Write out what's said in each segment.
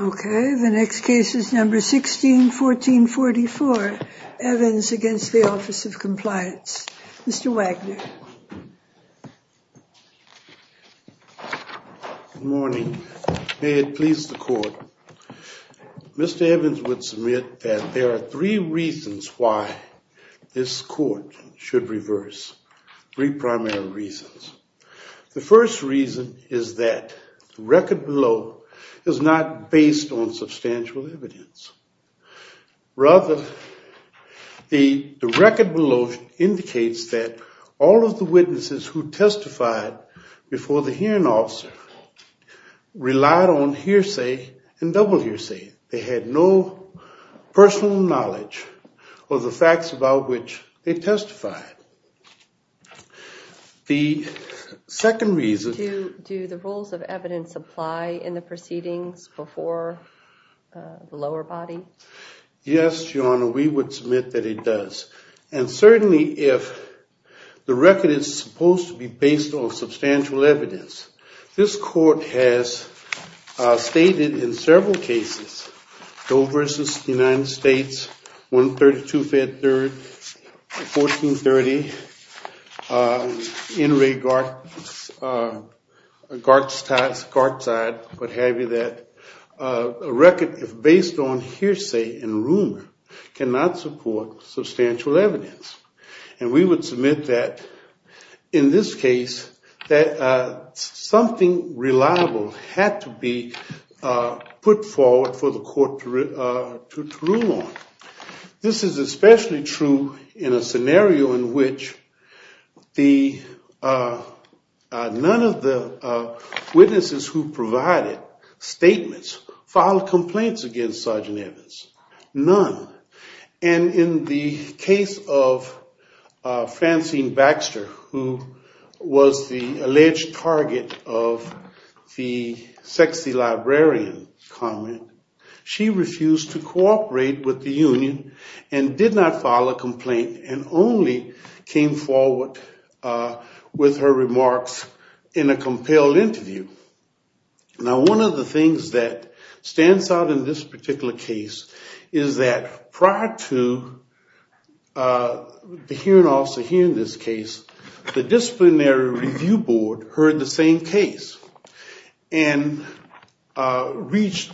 Okay, the next case is number 161444. Evans against the Office of Compliance. Mr. Wagner. Good morning. May it please the court. Mr. Evans would submit that there are three reasons why this court should reverse. Three primary reasons. The first reason is that the record below is not based on substantial evidence. Rather, the record below indicates that all of the witnesses who testified before the hearing officer relied on hearsay and double hearsay. They had no personal knowledge of the facts about which they testified. The second reason... Do the rules of evidence apply in the proceedings before the lower body? Yes, Your Honor, we would submit that it does. And certainly if the record is supposed to be based on substantial evidence, this court has stated in several cases, Doe v. United States, 132 Fed Third, 1430, N. Ray Gartside, what have you, that a record is based on hearsay. And we would submit that in this case that something reliable had to be put forward for the court to rule on. This is especially true in a scenario in which none of the witnesses who provided statements filed complaints against Sergeant Evans. None. And in the case of Francine Baxter, who was the alleged target of the sexy librarian comment, she refused to cooperate with the union and did not file a complaint and only came forward with her remarks in a compelled interview. Now one of the things that stands out in this particular case is that prior to the hearing officer hearing this case, the disciplinary review board heard the same case and reached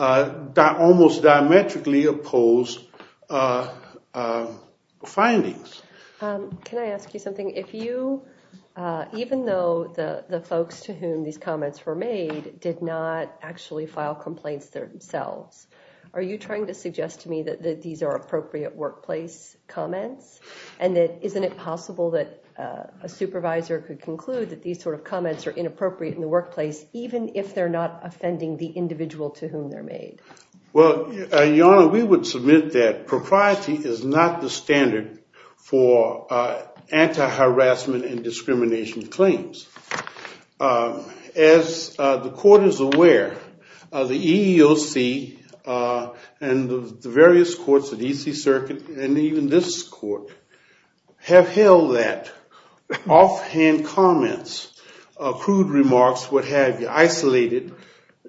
almost diametrically opposed findings. Can I ask you something? Even though the folks to whom these comments were made did not actually file complaints themselves, are you trying to suggest to me that these are appropriate workplace comments? And isn't it possible that a supervisor could conclude that these sort of comments are inappropriate in the workplace even if they're not offending the individual to whom they're made? Well, Your Honor, we would submit that propriety is not the standard for anti-harassment and discrimination claims. As the court is aware, the EEOC and the various courts of the E.C. Circuit and even this court have held that offhand comments, crude remarks, what have you, isolated,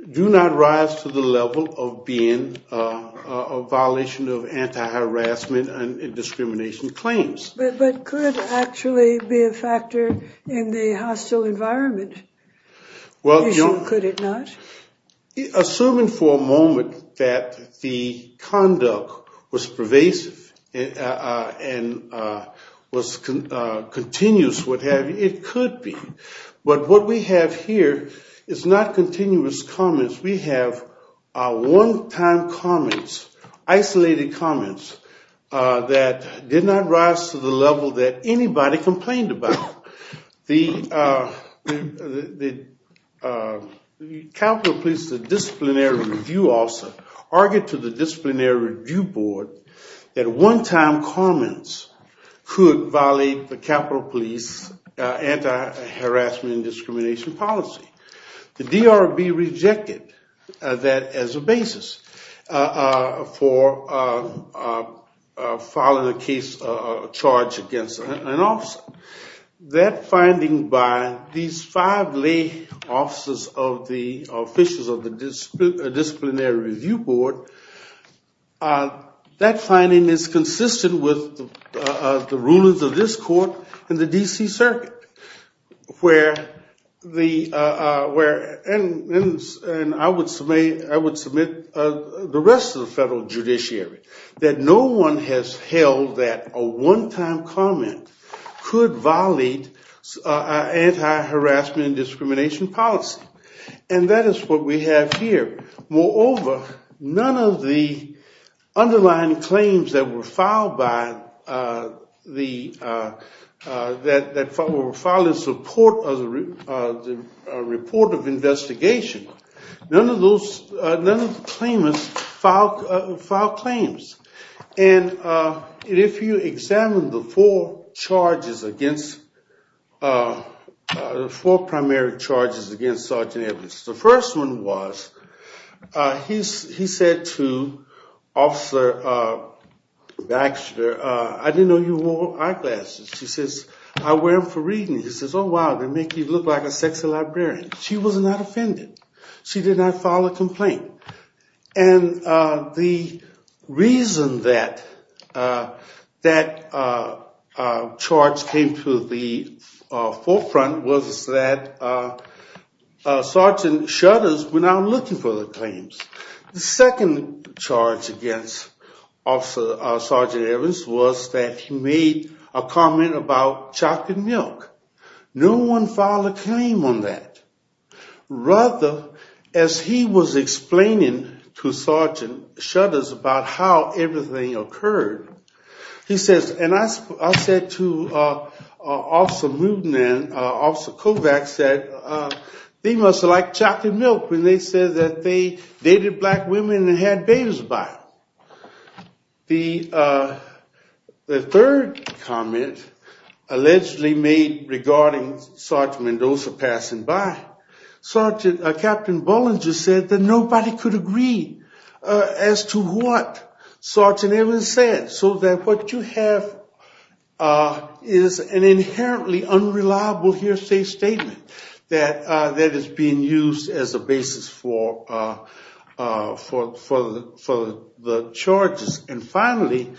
do not rise to the level of being a violation of anti-harassment and discrimination claims. But could it actually be a factor in the hostile environment? Could it not? Assuming for a moment that the conduct was pervasive and was continuous, what have you, it could be. But what we have here is not continuous comments. We have one-time comments, isolated comments that did not rise to the level that anybody complained about. The Capital Police, the disciplinary review officer, argued to the disciplinary review board that one-time comments could violate the Capital Police anti-harassment and discrimination policy. The D.R.B. rejected that as a basis for filing a case, a charge against an officer. That finding by these five lay officers of the officials of the disciplinary review board, that finding is consistent with the rulings of this court and the D.C. Circuit. And I would submit the rest of the federal judiciary that no one has held that a one-time comment could violate anti-harassment and discrimination policy. And that is what we have here. Moreover, none of the underlying claims that were filed in support of the report of investigation, none of the claimants filed claims. And if you examine the four primary charges against Sergeant Evans, the first one was, he said to Officer Baxter, I didn't know you wore eyeglasses. She says, I wear them for reading. He says, oh wow, they make you look like a sexy librarian. She was not offended. She did not file a complaint. And the reason that that charge came to the forefront was that Sergeant shutters were not looking for the claims. The second charge against Sergeant Evans was that he made a comment about chocolate milk. No one filed a claim on that. Rather, as he was explaining to Sergeant shutters about how everything occurred, he says, and I said to Officer Kovacs that they must have liked chocolate milk when they said that they dated black women and had babies by them. The third comment allegedly made regarding Sergeant Mendoza passing by, Captain Bollinger said that nobody could agree as to what Sergeant Evans said. So what you have is an inherently unreliable hearsay statement that is being used as a basis for the charges. And finally,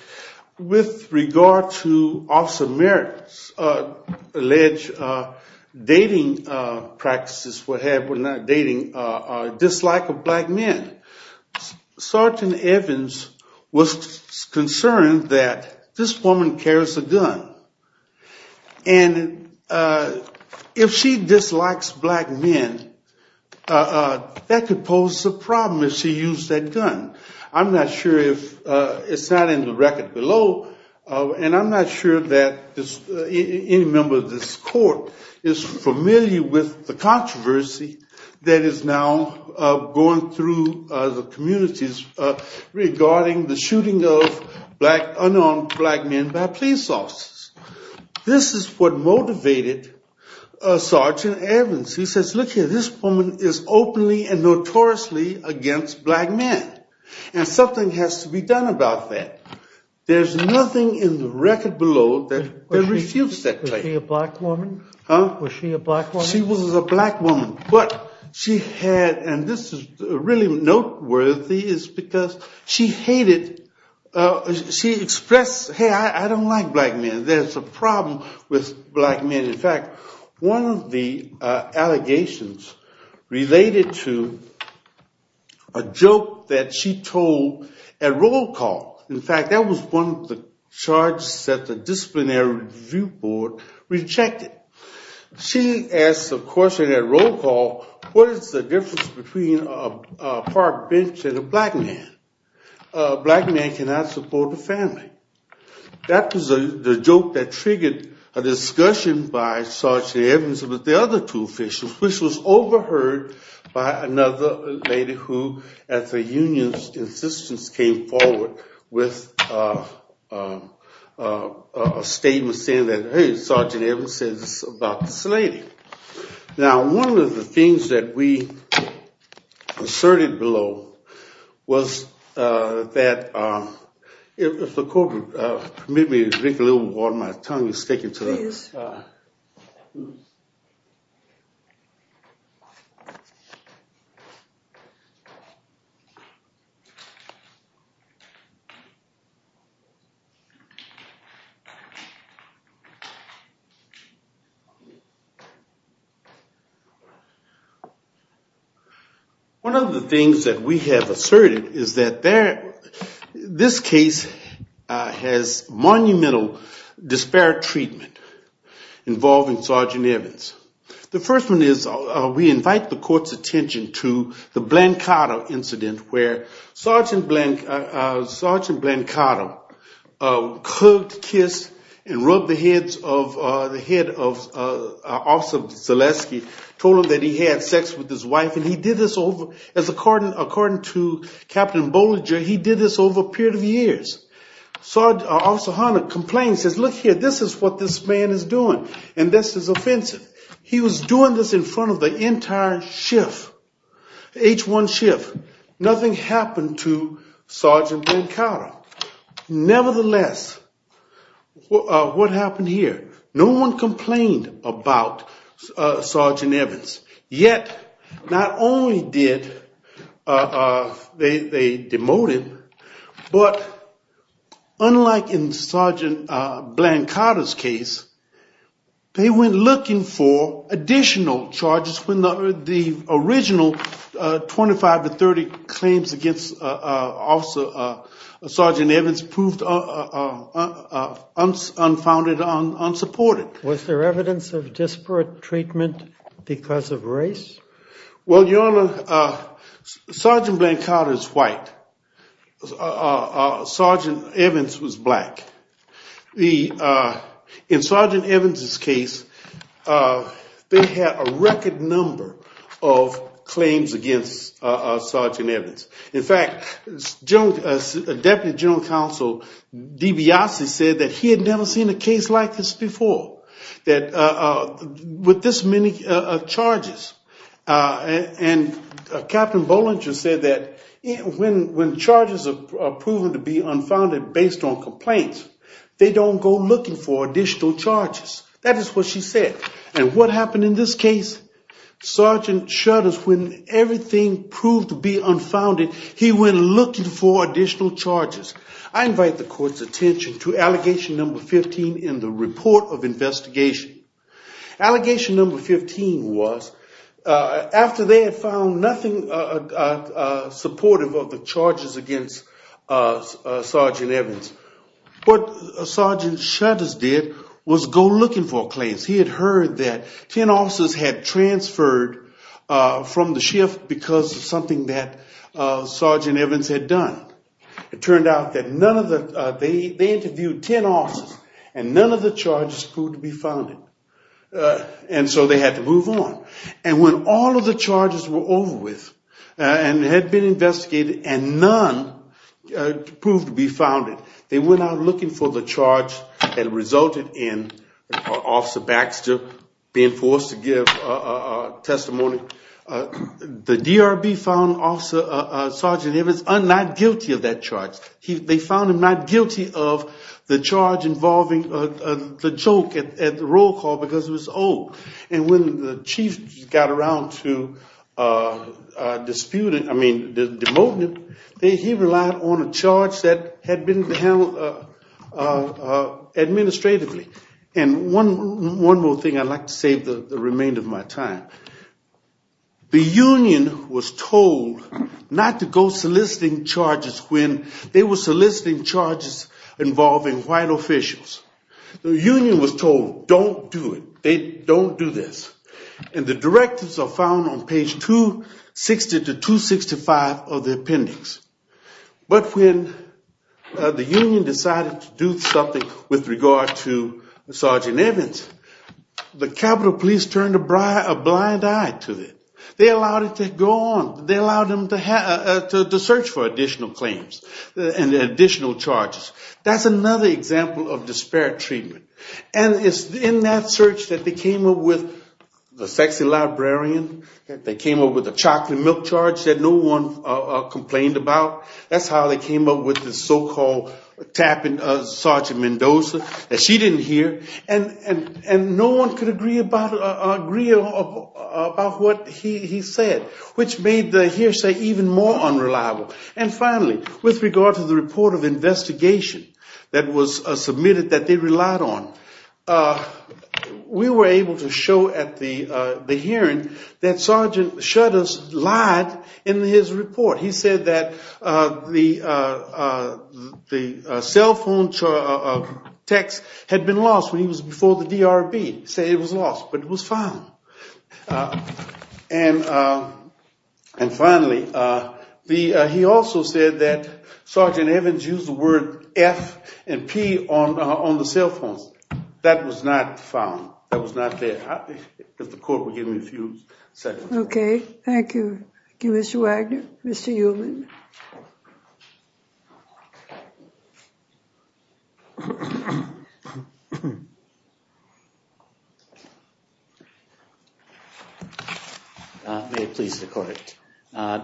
with regard to Officer Merritt's alleged dating practices, or dislike of black men, Sergeant Evans was concerned that this woman carries a gun and if she dislikes black men, that could pose a problem if she used that gun. I'm not sure if, it's not in the record below, and I'm not sure that any member of this court is familiar with the controversy that is now going through the communities regarding the shooting of unarmed black men by police officers. This is what motivated Sergeant Evans. He says, look here, this woman is openly and notoriously against black men, and something has to be done about that. There's nothing in the record below that refutes that claim. Was she a black woman? She was a black woman. But she had, and this is really noteworthy, is because she expressed, hey, I don't like black men, there's a problem with black men. In fact, one of the allegations related to a joke that she told at roll call. In fact, that was one of the charges that the disciplinary review board rejected. She asked the question at roll call, what is the difference between a park bench and a black man? A black man cannot support a family. That was the joke that triggered a discussion by Sergeant Evans with the other two officials, which was overheard by another lady who, at the union's insistence, came forward with a statement saying that, hey, Sergeant Evans said this about this lady. Now, one of the things that we asserted below was that, if the court would permit me to drink a little water, my tongue is sticking to this. One of the things that we have asserted is that this case has monumental disparate treatment. The first one is, we invite the court's attention to the Blancado incident, where Sergeant Blancado hugged, kissed, and rubbed the head of Officer Zaleski, told him that he had sex with his wife. And he did this over, according to Captain Bollinger, he did this over a period of years. Officer Hunter complained and said, look here, this is what this man is doing, and this is offensive. He was doing this in front of the entire H1 shift. Nothing happened to Sergeant Blancado. Nevertheless, what happened here? No one complained about Sergeant Evans. Yet, not only did they demote him, but unlike in Sergeant Blancado's case, they went looking for additional charges when the original 25 to 30 claims against Sergeant Evans proved unfounded, unsupported. Was there evidence of disparate treatment because of race? Well, Your Honor, Sergeant Blancado is white. Sergeant Evans was black. In Sergeant Evans' case, they had a record number of claims against Sergeant Evans. In fact, Deputy General Counsel DeBiase said that he had never seen a case like this before with this many charges. And Captain Bollinger said that when charges are proven to be unfounded based on complaints, they don't go looking for additional charges. That is what she said. And what happened in this case? Sergeant Shutters, when everything proved to be unfounded, he went looking for additional charges. I invite the Court's attention to Allegation No. 15 in the Report of Investigation. Allegation No. 15 was, after they had found nothing supportive of the charges against Sergeant Evans, what Sergeant Shutters did was go looking for claims. He had heard that 10 officers had transferred from the shift because of something that Sergeant Evans had done. It turned out that none of the – they interviewed 10 officers and none of the charges proved to be founded. And so they had to move on. And when all of the charges were over with and had been investigated and none proved to be founded, they went out looking for the charge that resulted in Officer Baxter being forced to give testimony. The DRB found Sergeant Evans not guilty of that charge. They found him not guilty of the charge involving the choke at the roll call because it was old. And when the chief got around to disputing – I mean, demoting him, he relied on a charge that had been handled administratively. And one more thing I'd like to say for the remainder of my time. The union was told not to go soliciting charges when they were soliciting charges involving white officials. The union was told, don't do it. They don't do this. And the directives are found on page 260 to 265 of the appendix. But when the union decided to do something with regard to Sergeant Evans, the Capitol Police turned a blind eye to it. They allowed it to go on. They allowed them to search for additional claims and additional charges. That's another example of disparate treatment. And it's in that search that they came up with the sexy librarian, they came up with the chocolate milk charge that no one complained about. That's how they came up with the so-called tapping Sergeant Mendoza that she didn't hear. And no one could agree about what he said, which made the hearsay even more unreliable. And finally, with regard to the report of investigation that was submitted that they relied on, we were able to show at the hearing that Sergeant Shutters lied in his report. He said that the cell phone text had been lost when he was before the DRB. He said it was lost, but it was found. And finally, he also said that Sergeant Evans used the word F and P on the cell phones. That was not found. That was not there. If the court would give me a few seconds. Okay. Thank you. Thank you, Mr. Wagner. Mr. Ullman. May it please the court. I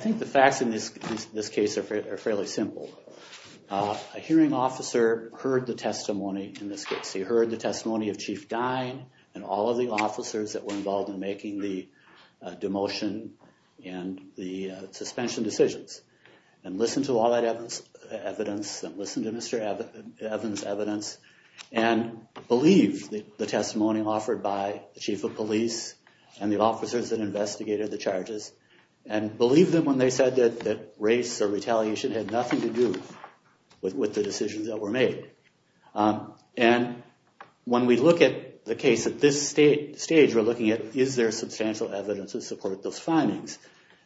think the facts in this case are fairly simple. A hearing officer heard the testimony in this case. He heard the testimony of Chief Dine and all of the officers that were involved in making the demotion and the suspension decisions. And listened to all that evidence, and listened to Mr. Evans' evidence, and believed the testimony offered by the Chief of Police and the officers that investigated the charges, and believed them when they said that race or retaliation had nothing to do with the decisions that were made. And when we look at the case at this stage, we're looking at, is there substantial evidence to support those findings?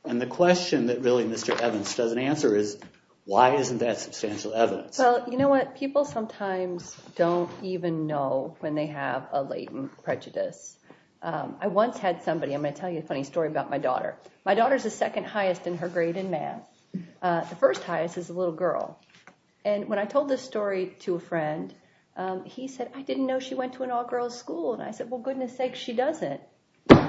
And the question that really Mr. Evans doesn't answer is, why isn't that substantial evidence? Well, you know what? People sometimes don't even know when they have a latent prejudice. I once had somebody. I'm going to tell you a funny story about my daughter. My daughter's the second highest in her grade in math. The first highest is a little girl. And when I told this story to a friend, he said, I didn't know she went to an all-girls school. And I said, well, goodness sakes, she doesn't.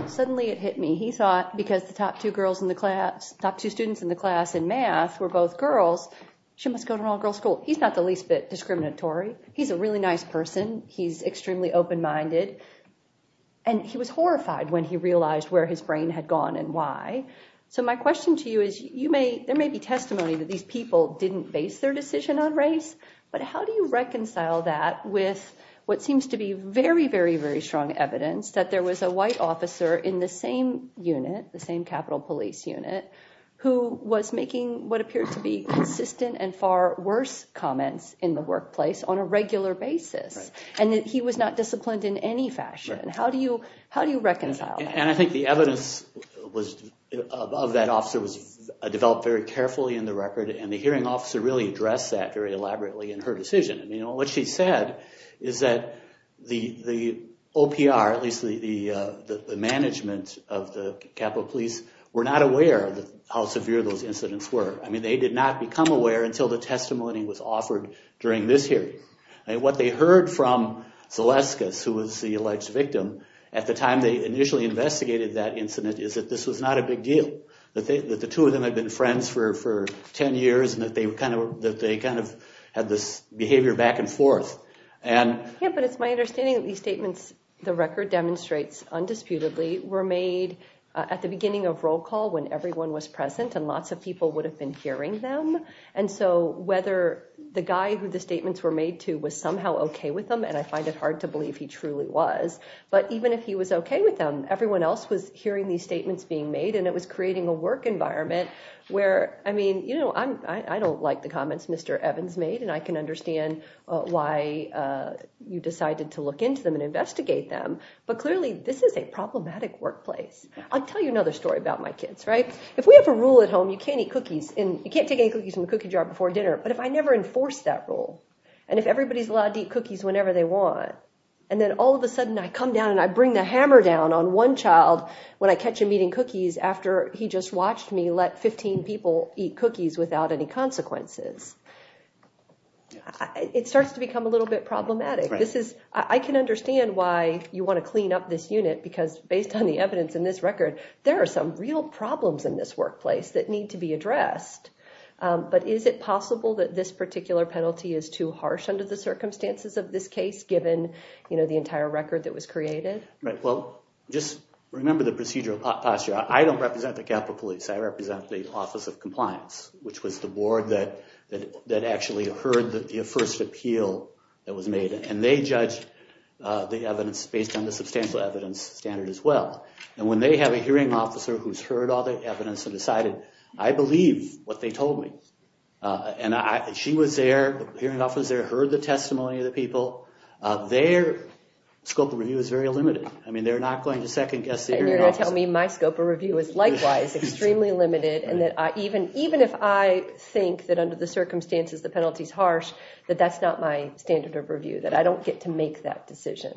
Suddenly, it hit me. He thought, because the top two students in the class in math were both girls, she must go to an all-girls school. He's not the least bit discriminatory. He's a really nice person. He's extremely open-minded. And he was horrified when he realized where his brain had gone and why. So my question to you is, there may be testimony that these people didn't base their decision on race, but how do you reconcile that with what seems to be very, very, very strong evidence that there was a white officer in the same unit, the same Capitol Police unit, who was making what appeared to be consistent and far worse comments in the workplace on a regular basis, and that he was not disciplined in any fashion? How do you reconcile that? And I think the evidence of that officer was developed very carefully in the record, and the hearing officer really addressed that very elaborately in her decision. What she said is that the OPR, at least the management of the Capitol Police, were not aware of how severe those incidents were. I mean, they did not become aware until the testimony was offered during this hearing. And what they heard from Zaleskis, who was the alleged victim, at the time they initially investigated that incident, is that this was not a big deal, that the two of them had been friends for 10 years, and that they kind of had this behavior back and forth. Yeah, but it's my understanding that these statements, the record demonstrates undisputedly, were made at the beginning of roll call when everyone was present, and lots of people would have been hearing them. And so whether the guy who the statements were made to was somehow okay with them, and I find it hard to believe he truly was, but even if he was okay with them, everyone else was hearing these statements being made, and it was creating a work environment where, I mean, you know, I don't like the comments Mr. Evans made, and I can understand why you decided to look into them and investigate them, but clearly this is a problematic workplace. I'll tell you another story about my kids, right? If we have a rule at home, you can't eat cookies, you can't take any cookies from the cookie jar before dinner, but if I never enforce that rule, and if everybody's allowed to eat cookies whenever they want, and then all of a sudden I come down and I bring the hammer down on one child when I catch him eating cookies after he just watched me let 15 people eat cookies without any consequences, it starts to become a little bit problematic. This is, I can understand why you want to clean up this unit, because based on the evidence in this record, there are some real problems in this workplace that need to be addressed, but is it possible that this particular penalty is too harsh under the circumstances of this case given the entire record that was created? Right, well, just remember the procedural posture. I don't represent the Capitol Police. I represent the Office of Compliance, which was the board that actually heard the first appeal that was made, and they judged the evidence based on the substantial evidence standard as well, and when they have a hearing officer who's heard all the evidence and decided, I believe what they told me, and she was there, the hearing officer heard the testimony of the people, their scope of review is very limited. I mean, they're not going to second-guess the hearing officer. And you're going to tell me my scope of review is likewise extremely limited, and that even if I think that under the circumstances the penalty is harsh, that that's not my standard of review, that I don't get to make that decision.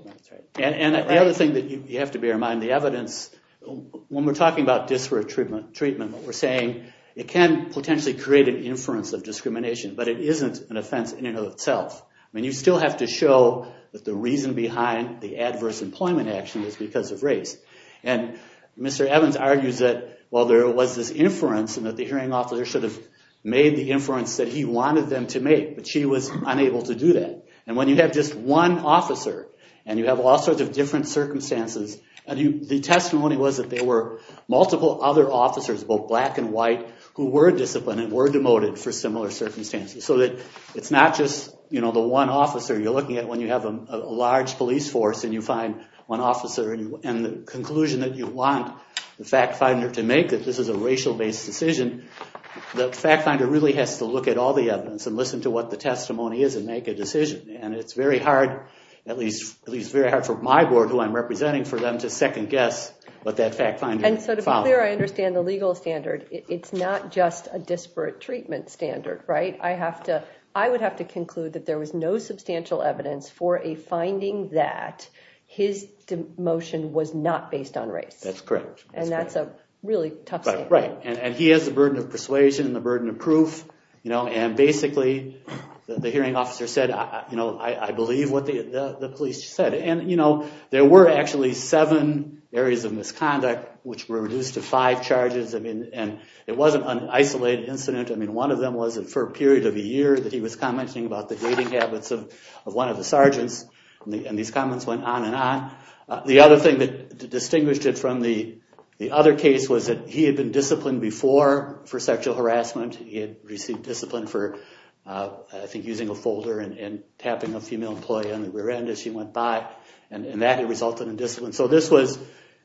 And the other thing that you have to bear in mind, the evidence, when we're talking about disparate treatment, we're saying it can potentially create an inference of discrimination, but it isn't an offense in and of itself. I mean, you still have to show that the reason behind the adverse employment action is because of race. And Mr. Evans argues that while there was this inference and that the hearing officer should have made the inference that he wanted them to make, but she was unable to do that. And when you have just one officer, and you have all sorts of different circumstances, the testimony was that there were multiple other officers, both black and white, who were disciplined and were demoted for similar circumstances. So that it's not just the one officer you're looking at when you have a large police force and you find one officer. And the conclusion that you want the fact finder to make, that this is a racial-based decision, the fact finder really has to look at all the evidence and listen to what the testimony is and make a decision. And it's very hard, at least very hard for my board, who I'm representing, for them to second guess what that fact finder found. And so to be clear, I understand the legal standard. It's not just a disparate treatment standard, right? I would have to conclude that there was no substantial evidence for a finding that his demotion was not based on race. That's correct. And that's a really tough standard. Right. And he has the burden of persuasion and the burden of proof. And basically, the hearing officer said, I believe what the police said. And there were actually seven areas of misconduct which were reduced to five charges. And it wasn't an isolated incident. One of them was for a period of a year that he was commenting about the dating habits of one of the sergeants. And these comments went on and on. The other thing that distinguished it from the other case was that he had been disciplined before for sexual harassment. He had received discipline for, I think, using a folder and tapping a female employee on the rear end as she went by. And that had resulted in discipline. So this was,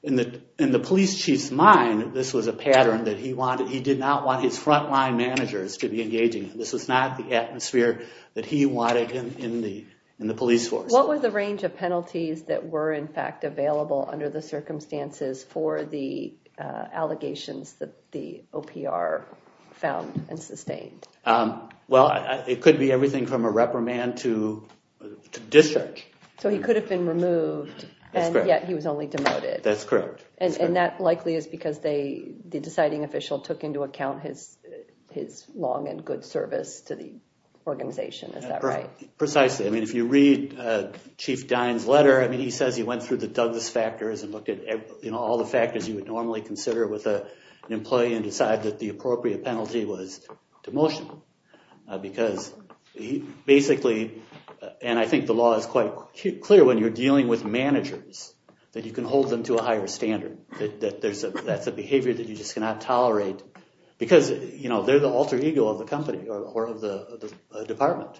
in the police chief's mind, this was a pattern that he wanted. He did not want his frontline managers to be engaging. This was not the atmosphere that he wanted in the police force. What were the range of penalties that were, in fact, available under the circumstances for the allegations that the OPR found and sustained? Well, it could be everything from a reprimand to discharge. So he could have been removed, and yet he was only demoted. That's correct. And that likely is because the deciding official took into account his long and good service to the organization. Is that right? Precisely. I mean, if you read Chief Dine's letter, he says he went through the Douglas factors and looked at all the factors you would normally consider with an employee and decided that the appropriate penalty was demotion. Because basically, and I think the law is quite clear when you're dealing with managers, that you can hold them to a higher standard. That's a behavior that you just cannot tolerate. Because they're the alter ego of the company or of the department.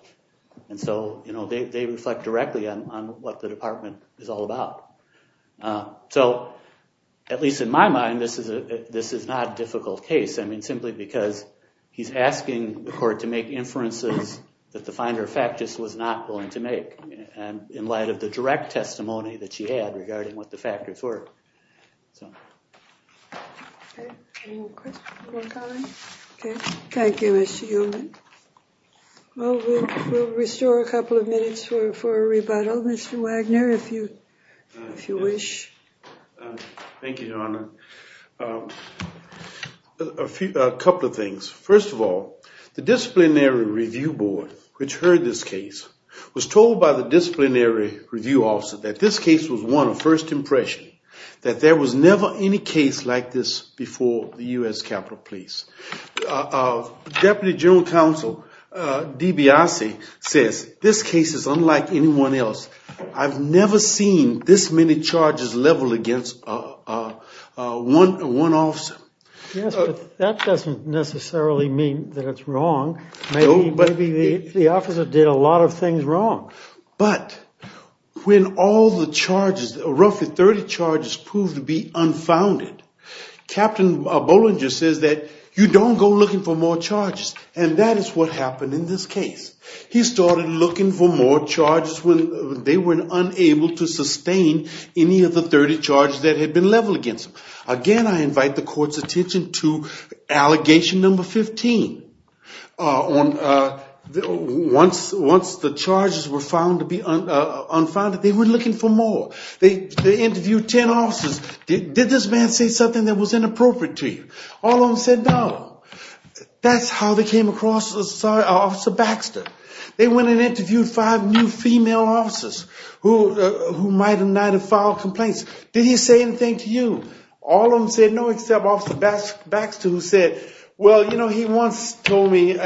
And so they reflect directly on what the department is all about. So at least in my mind, this is not a difficult case. I mean, simply because he's asking the court to make inferences that the finder of fact just was not going to make in light of the direct testimony that she had regarding what the factors were. Any more questions or comments? Thank you, Mr. Ullman. Well, we'll restore a couple of minutes for a rebuttal. Mr. Wagner, if you wish. Thank you, Your Honor. A couple of things. First of all, the disciplinary review board, which heard this case, was told by the disciplinary review officer that this case was one of first impression, that there was never any case like this before the U.S. Capitol Police. Deputy General Counsel DiBiase says, this case is unlike anyone else. I've never seen this many charges leveled against one officer. Yes, but that doesn't necessarily mean that it's wrong. Maybe the officer did a lot of things wrong. But when all the charges, roughly 30 charges, proved to be unfounded, Captain Bollinger says that you don't go looking for more charges. And that is what happened in this case. He started looking for more charges when they were unable to sustain any of the 30 charges that had been leveled against them. Again, I invite the court's attention to allegation number 15. Once the charges were found to be unfounded, they were looking for more. They interviewed 10 officers. Did this man say something that was inappropriate to you? All of them said no. That's how they came across Officer Baxter. They went and interviewed five new female officers who might or might not have filed complaints. Did he say anything to you? All of them said no, except Officer Baxter, who said, well, you know, he once told me my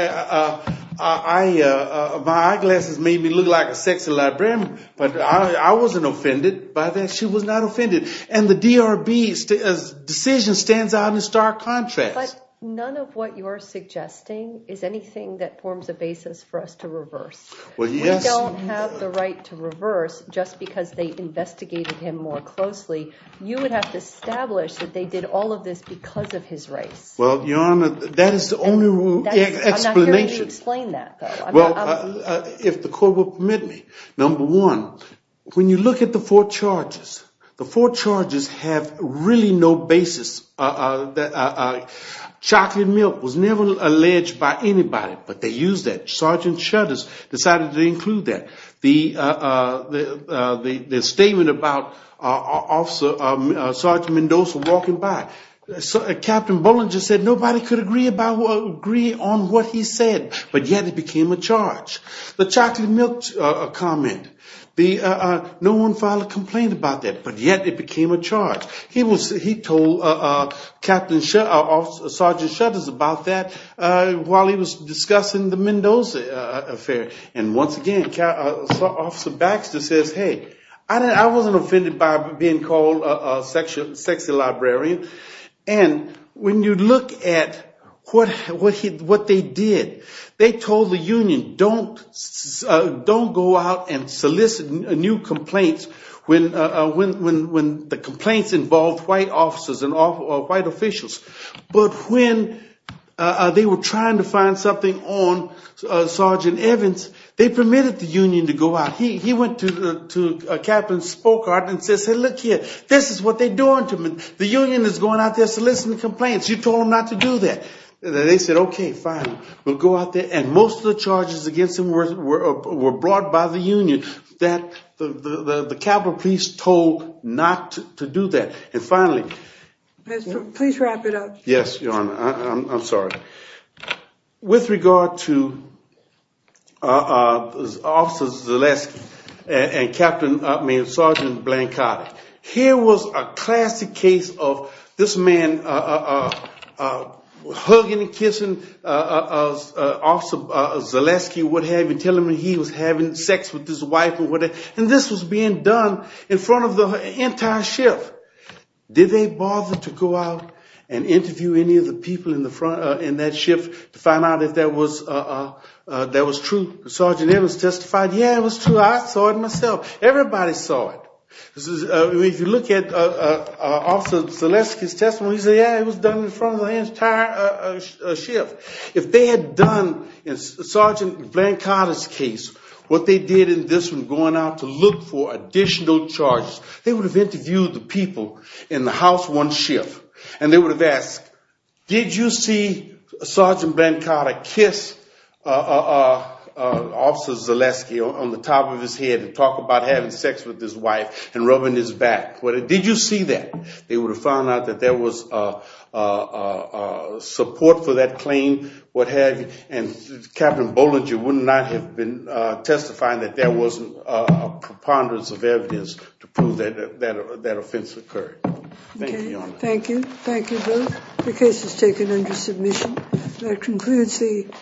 eyeglasses made me look like a sexy librarian, but I wasn't offended by that. She was not offended. And the DRB's decision stands out in stark contrast. But none of what you're suggesting is anything that forms a basis for us to reverse. We don't have the right to reverse just because they investigated him more closely. You would have to establish that they did all of this because of his race. Well, Your Honor, that is the only explanation. I'm not hearing you explain that. Well, if the Court will permit me, number one, when you look at the four charges, the four charges have really no basis. Chocolate milk was never alleged by anybody, but they used that. Sergeant Shutters decided to include that. The statement about Sergeant Mendoza walking by, Captain Bollinger said nobody could agree on what he said, but yet it became a charge. The chocolate milk comment, no one filed a complaint about that, but yet it became a charge. He told Sergeant Shutters about that while he was discussing the Mendoza affair. And once again, Officer Baxter says, hey, I wasn't offended by being called a sexy librarian. And when you look at what they did, they told the union don't go out and solicit new complaints when the complaints involved white officers and white officials. But when they were trying to find something on Sergeant Evans, they permitted the union to go out. He went to Captain Spokart and said, hey, look here, this is what they're doing to him. The union is going out there soliciting complaints. You told them not to do that. They said, okay, fine, we'll go out there. And most of the charges against him were brought by the union. The Capitol Police told not to do that. And finally. Please wrap it up. Yes, Your Honor. I'm sorry. With regard to Officer Zaleski and Captain, here was a classic case of this man hugging and kissing Officer Zaleski, telling him he was having sex with his wife. And this was being done in front of the entire ship. Did they bother to go out and interview any of the people in that ship to find out if that was true? Sergeant Evans testified, yeah, it was true. I saw it myself. Everybody saw it. If you look at Officer Zaleski's testimony, he said, yeah, it was done in front of the entire ship. If they had done, in Sergeant Blancata's case, what they did in this one, going out to look for additional charges, they would have interviewed the people in the house one ship. And they would have asked, did you see Sergeant Blancata kiss Officer Zaleski on the top of his head and talk about having sex with his wife and rubbing his back? Did you see that? They would have found out that there was support for that claim, what have you. And Captain Bollinger would not have been testifying that there wasn't preponderance of evidence to prove that that offense occurred. Thank you, Your Honor. Thank you. Thank you both. The case is taken under submission. That concludes the.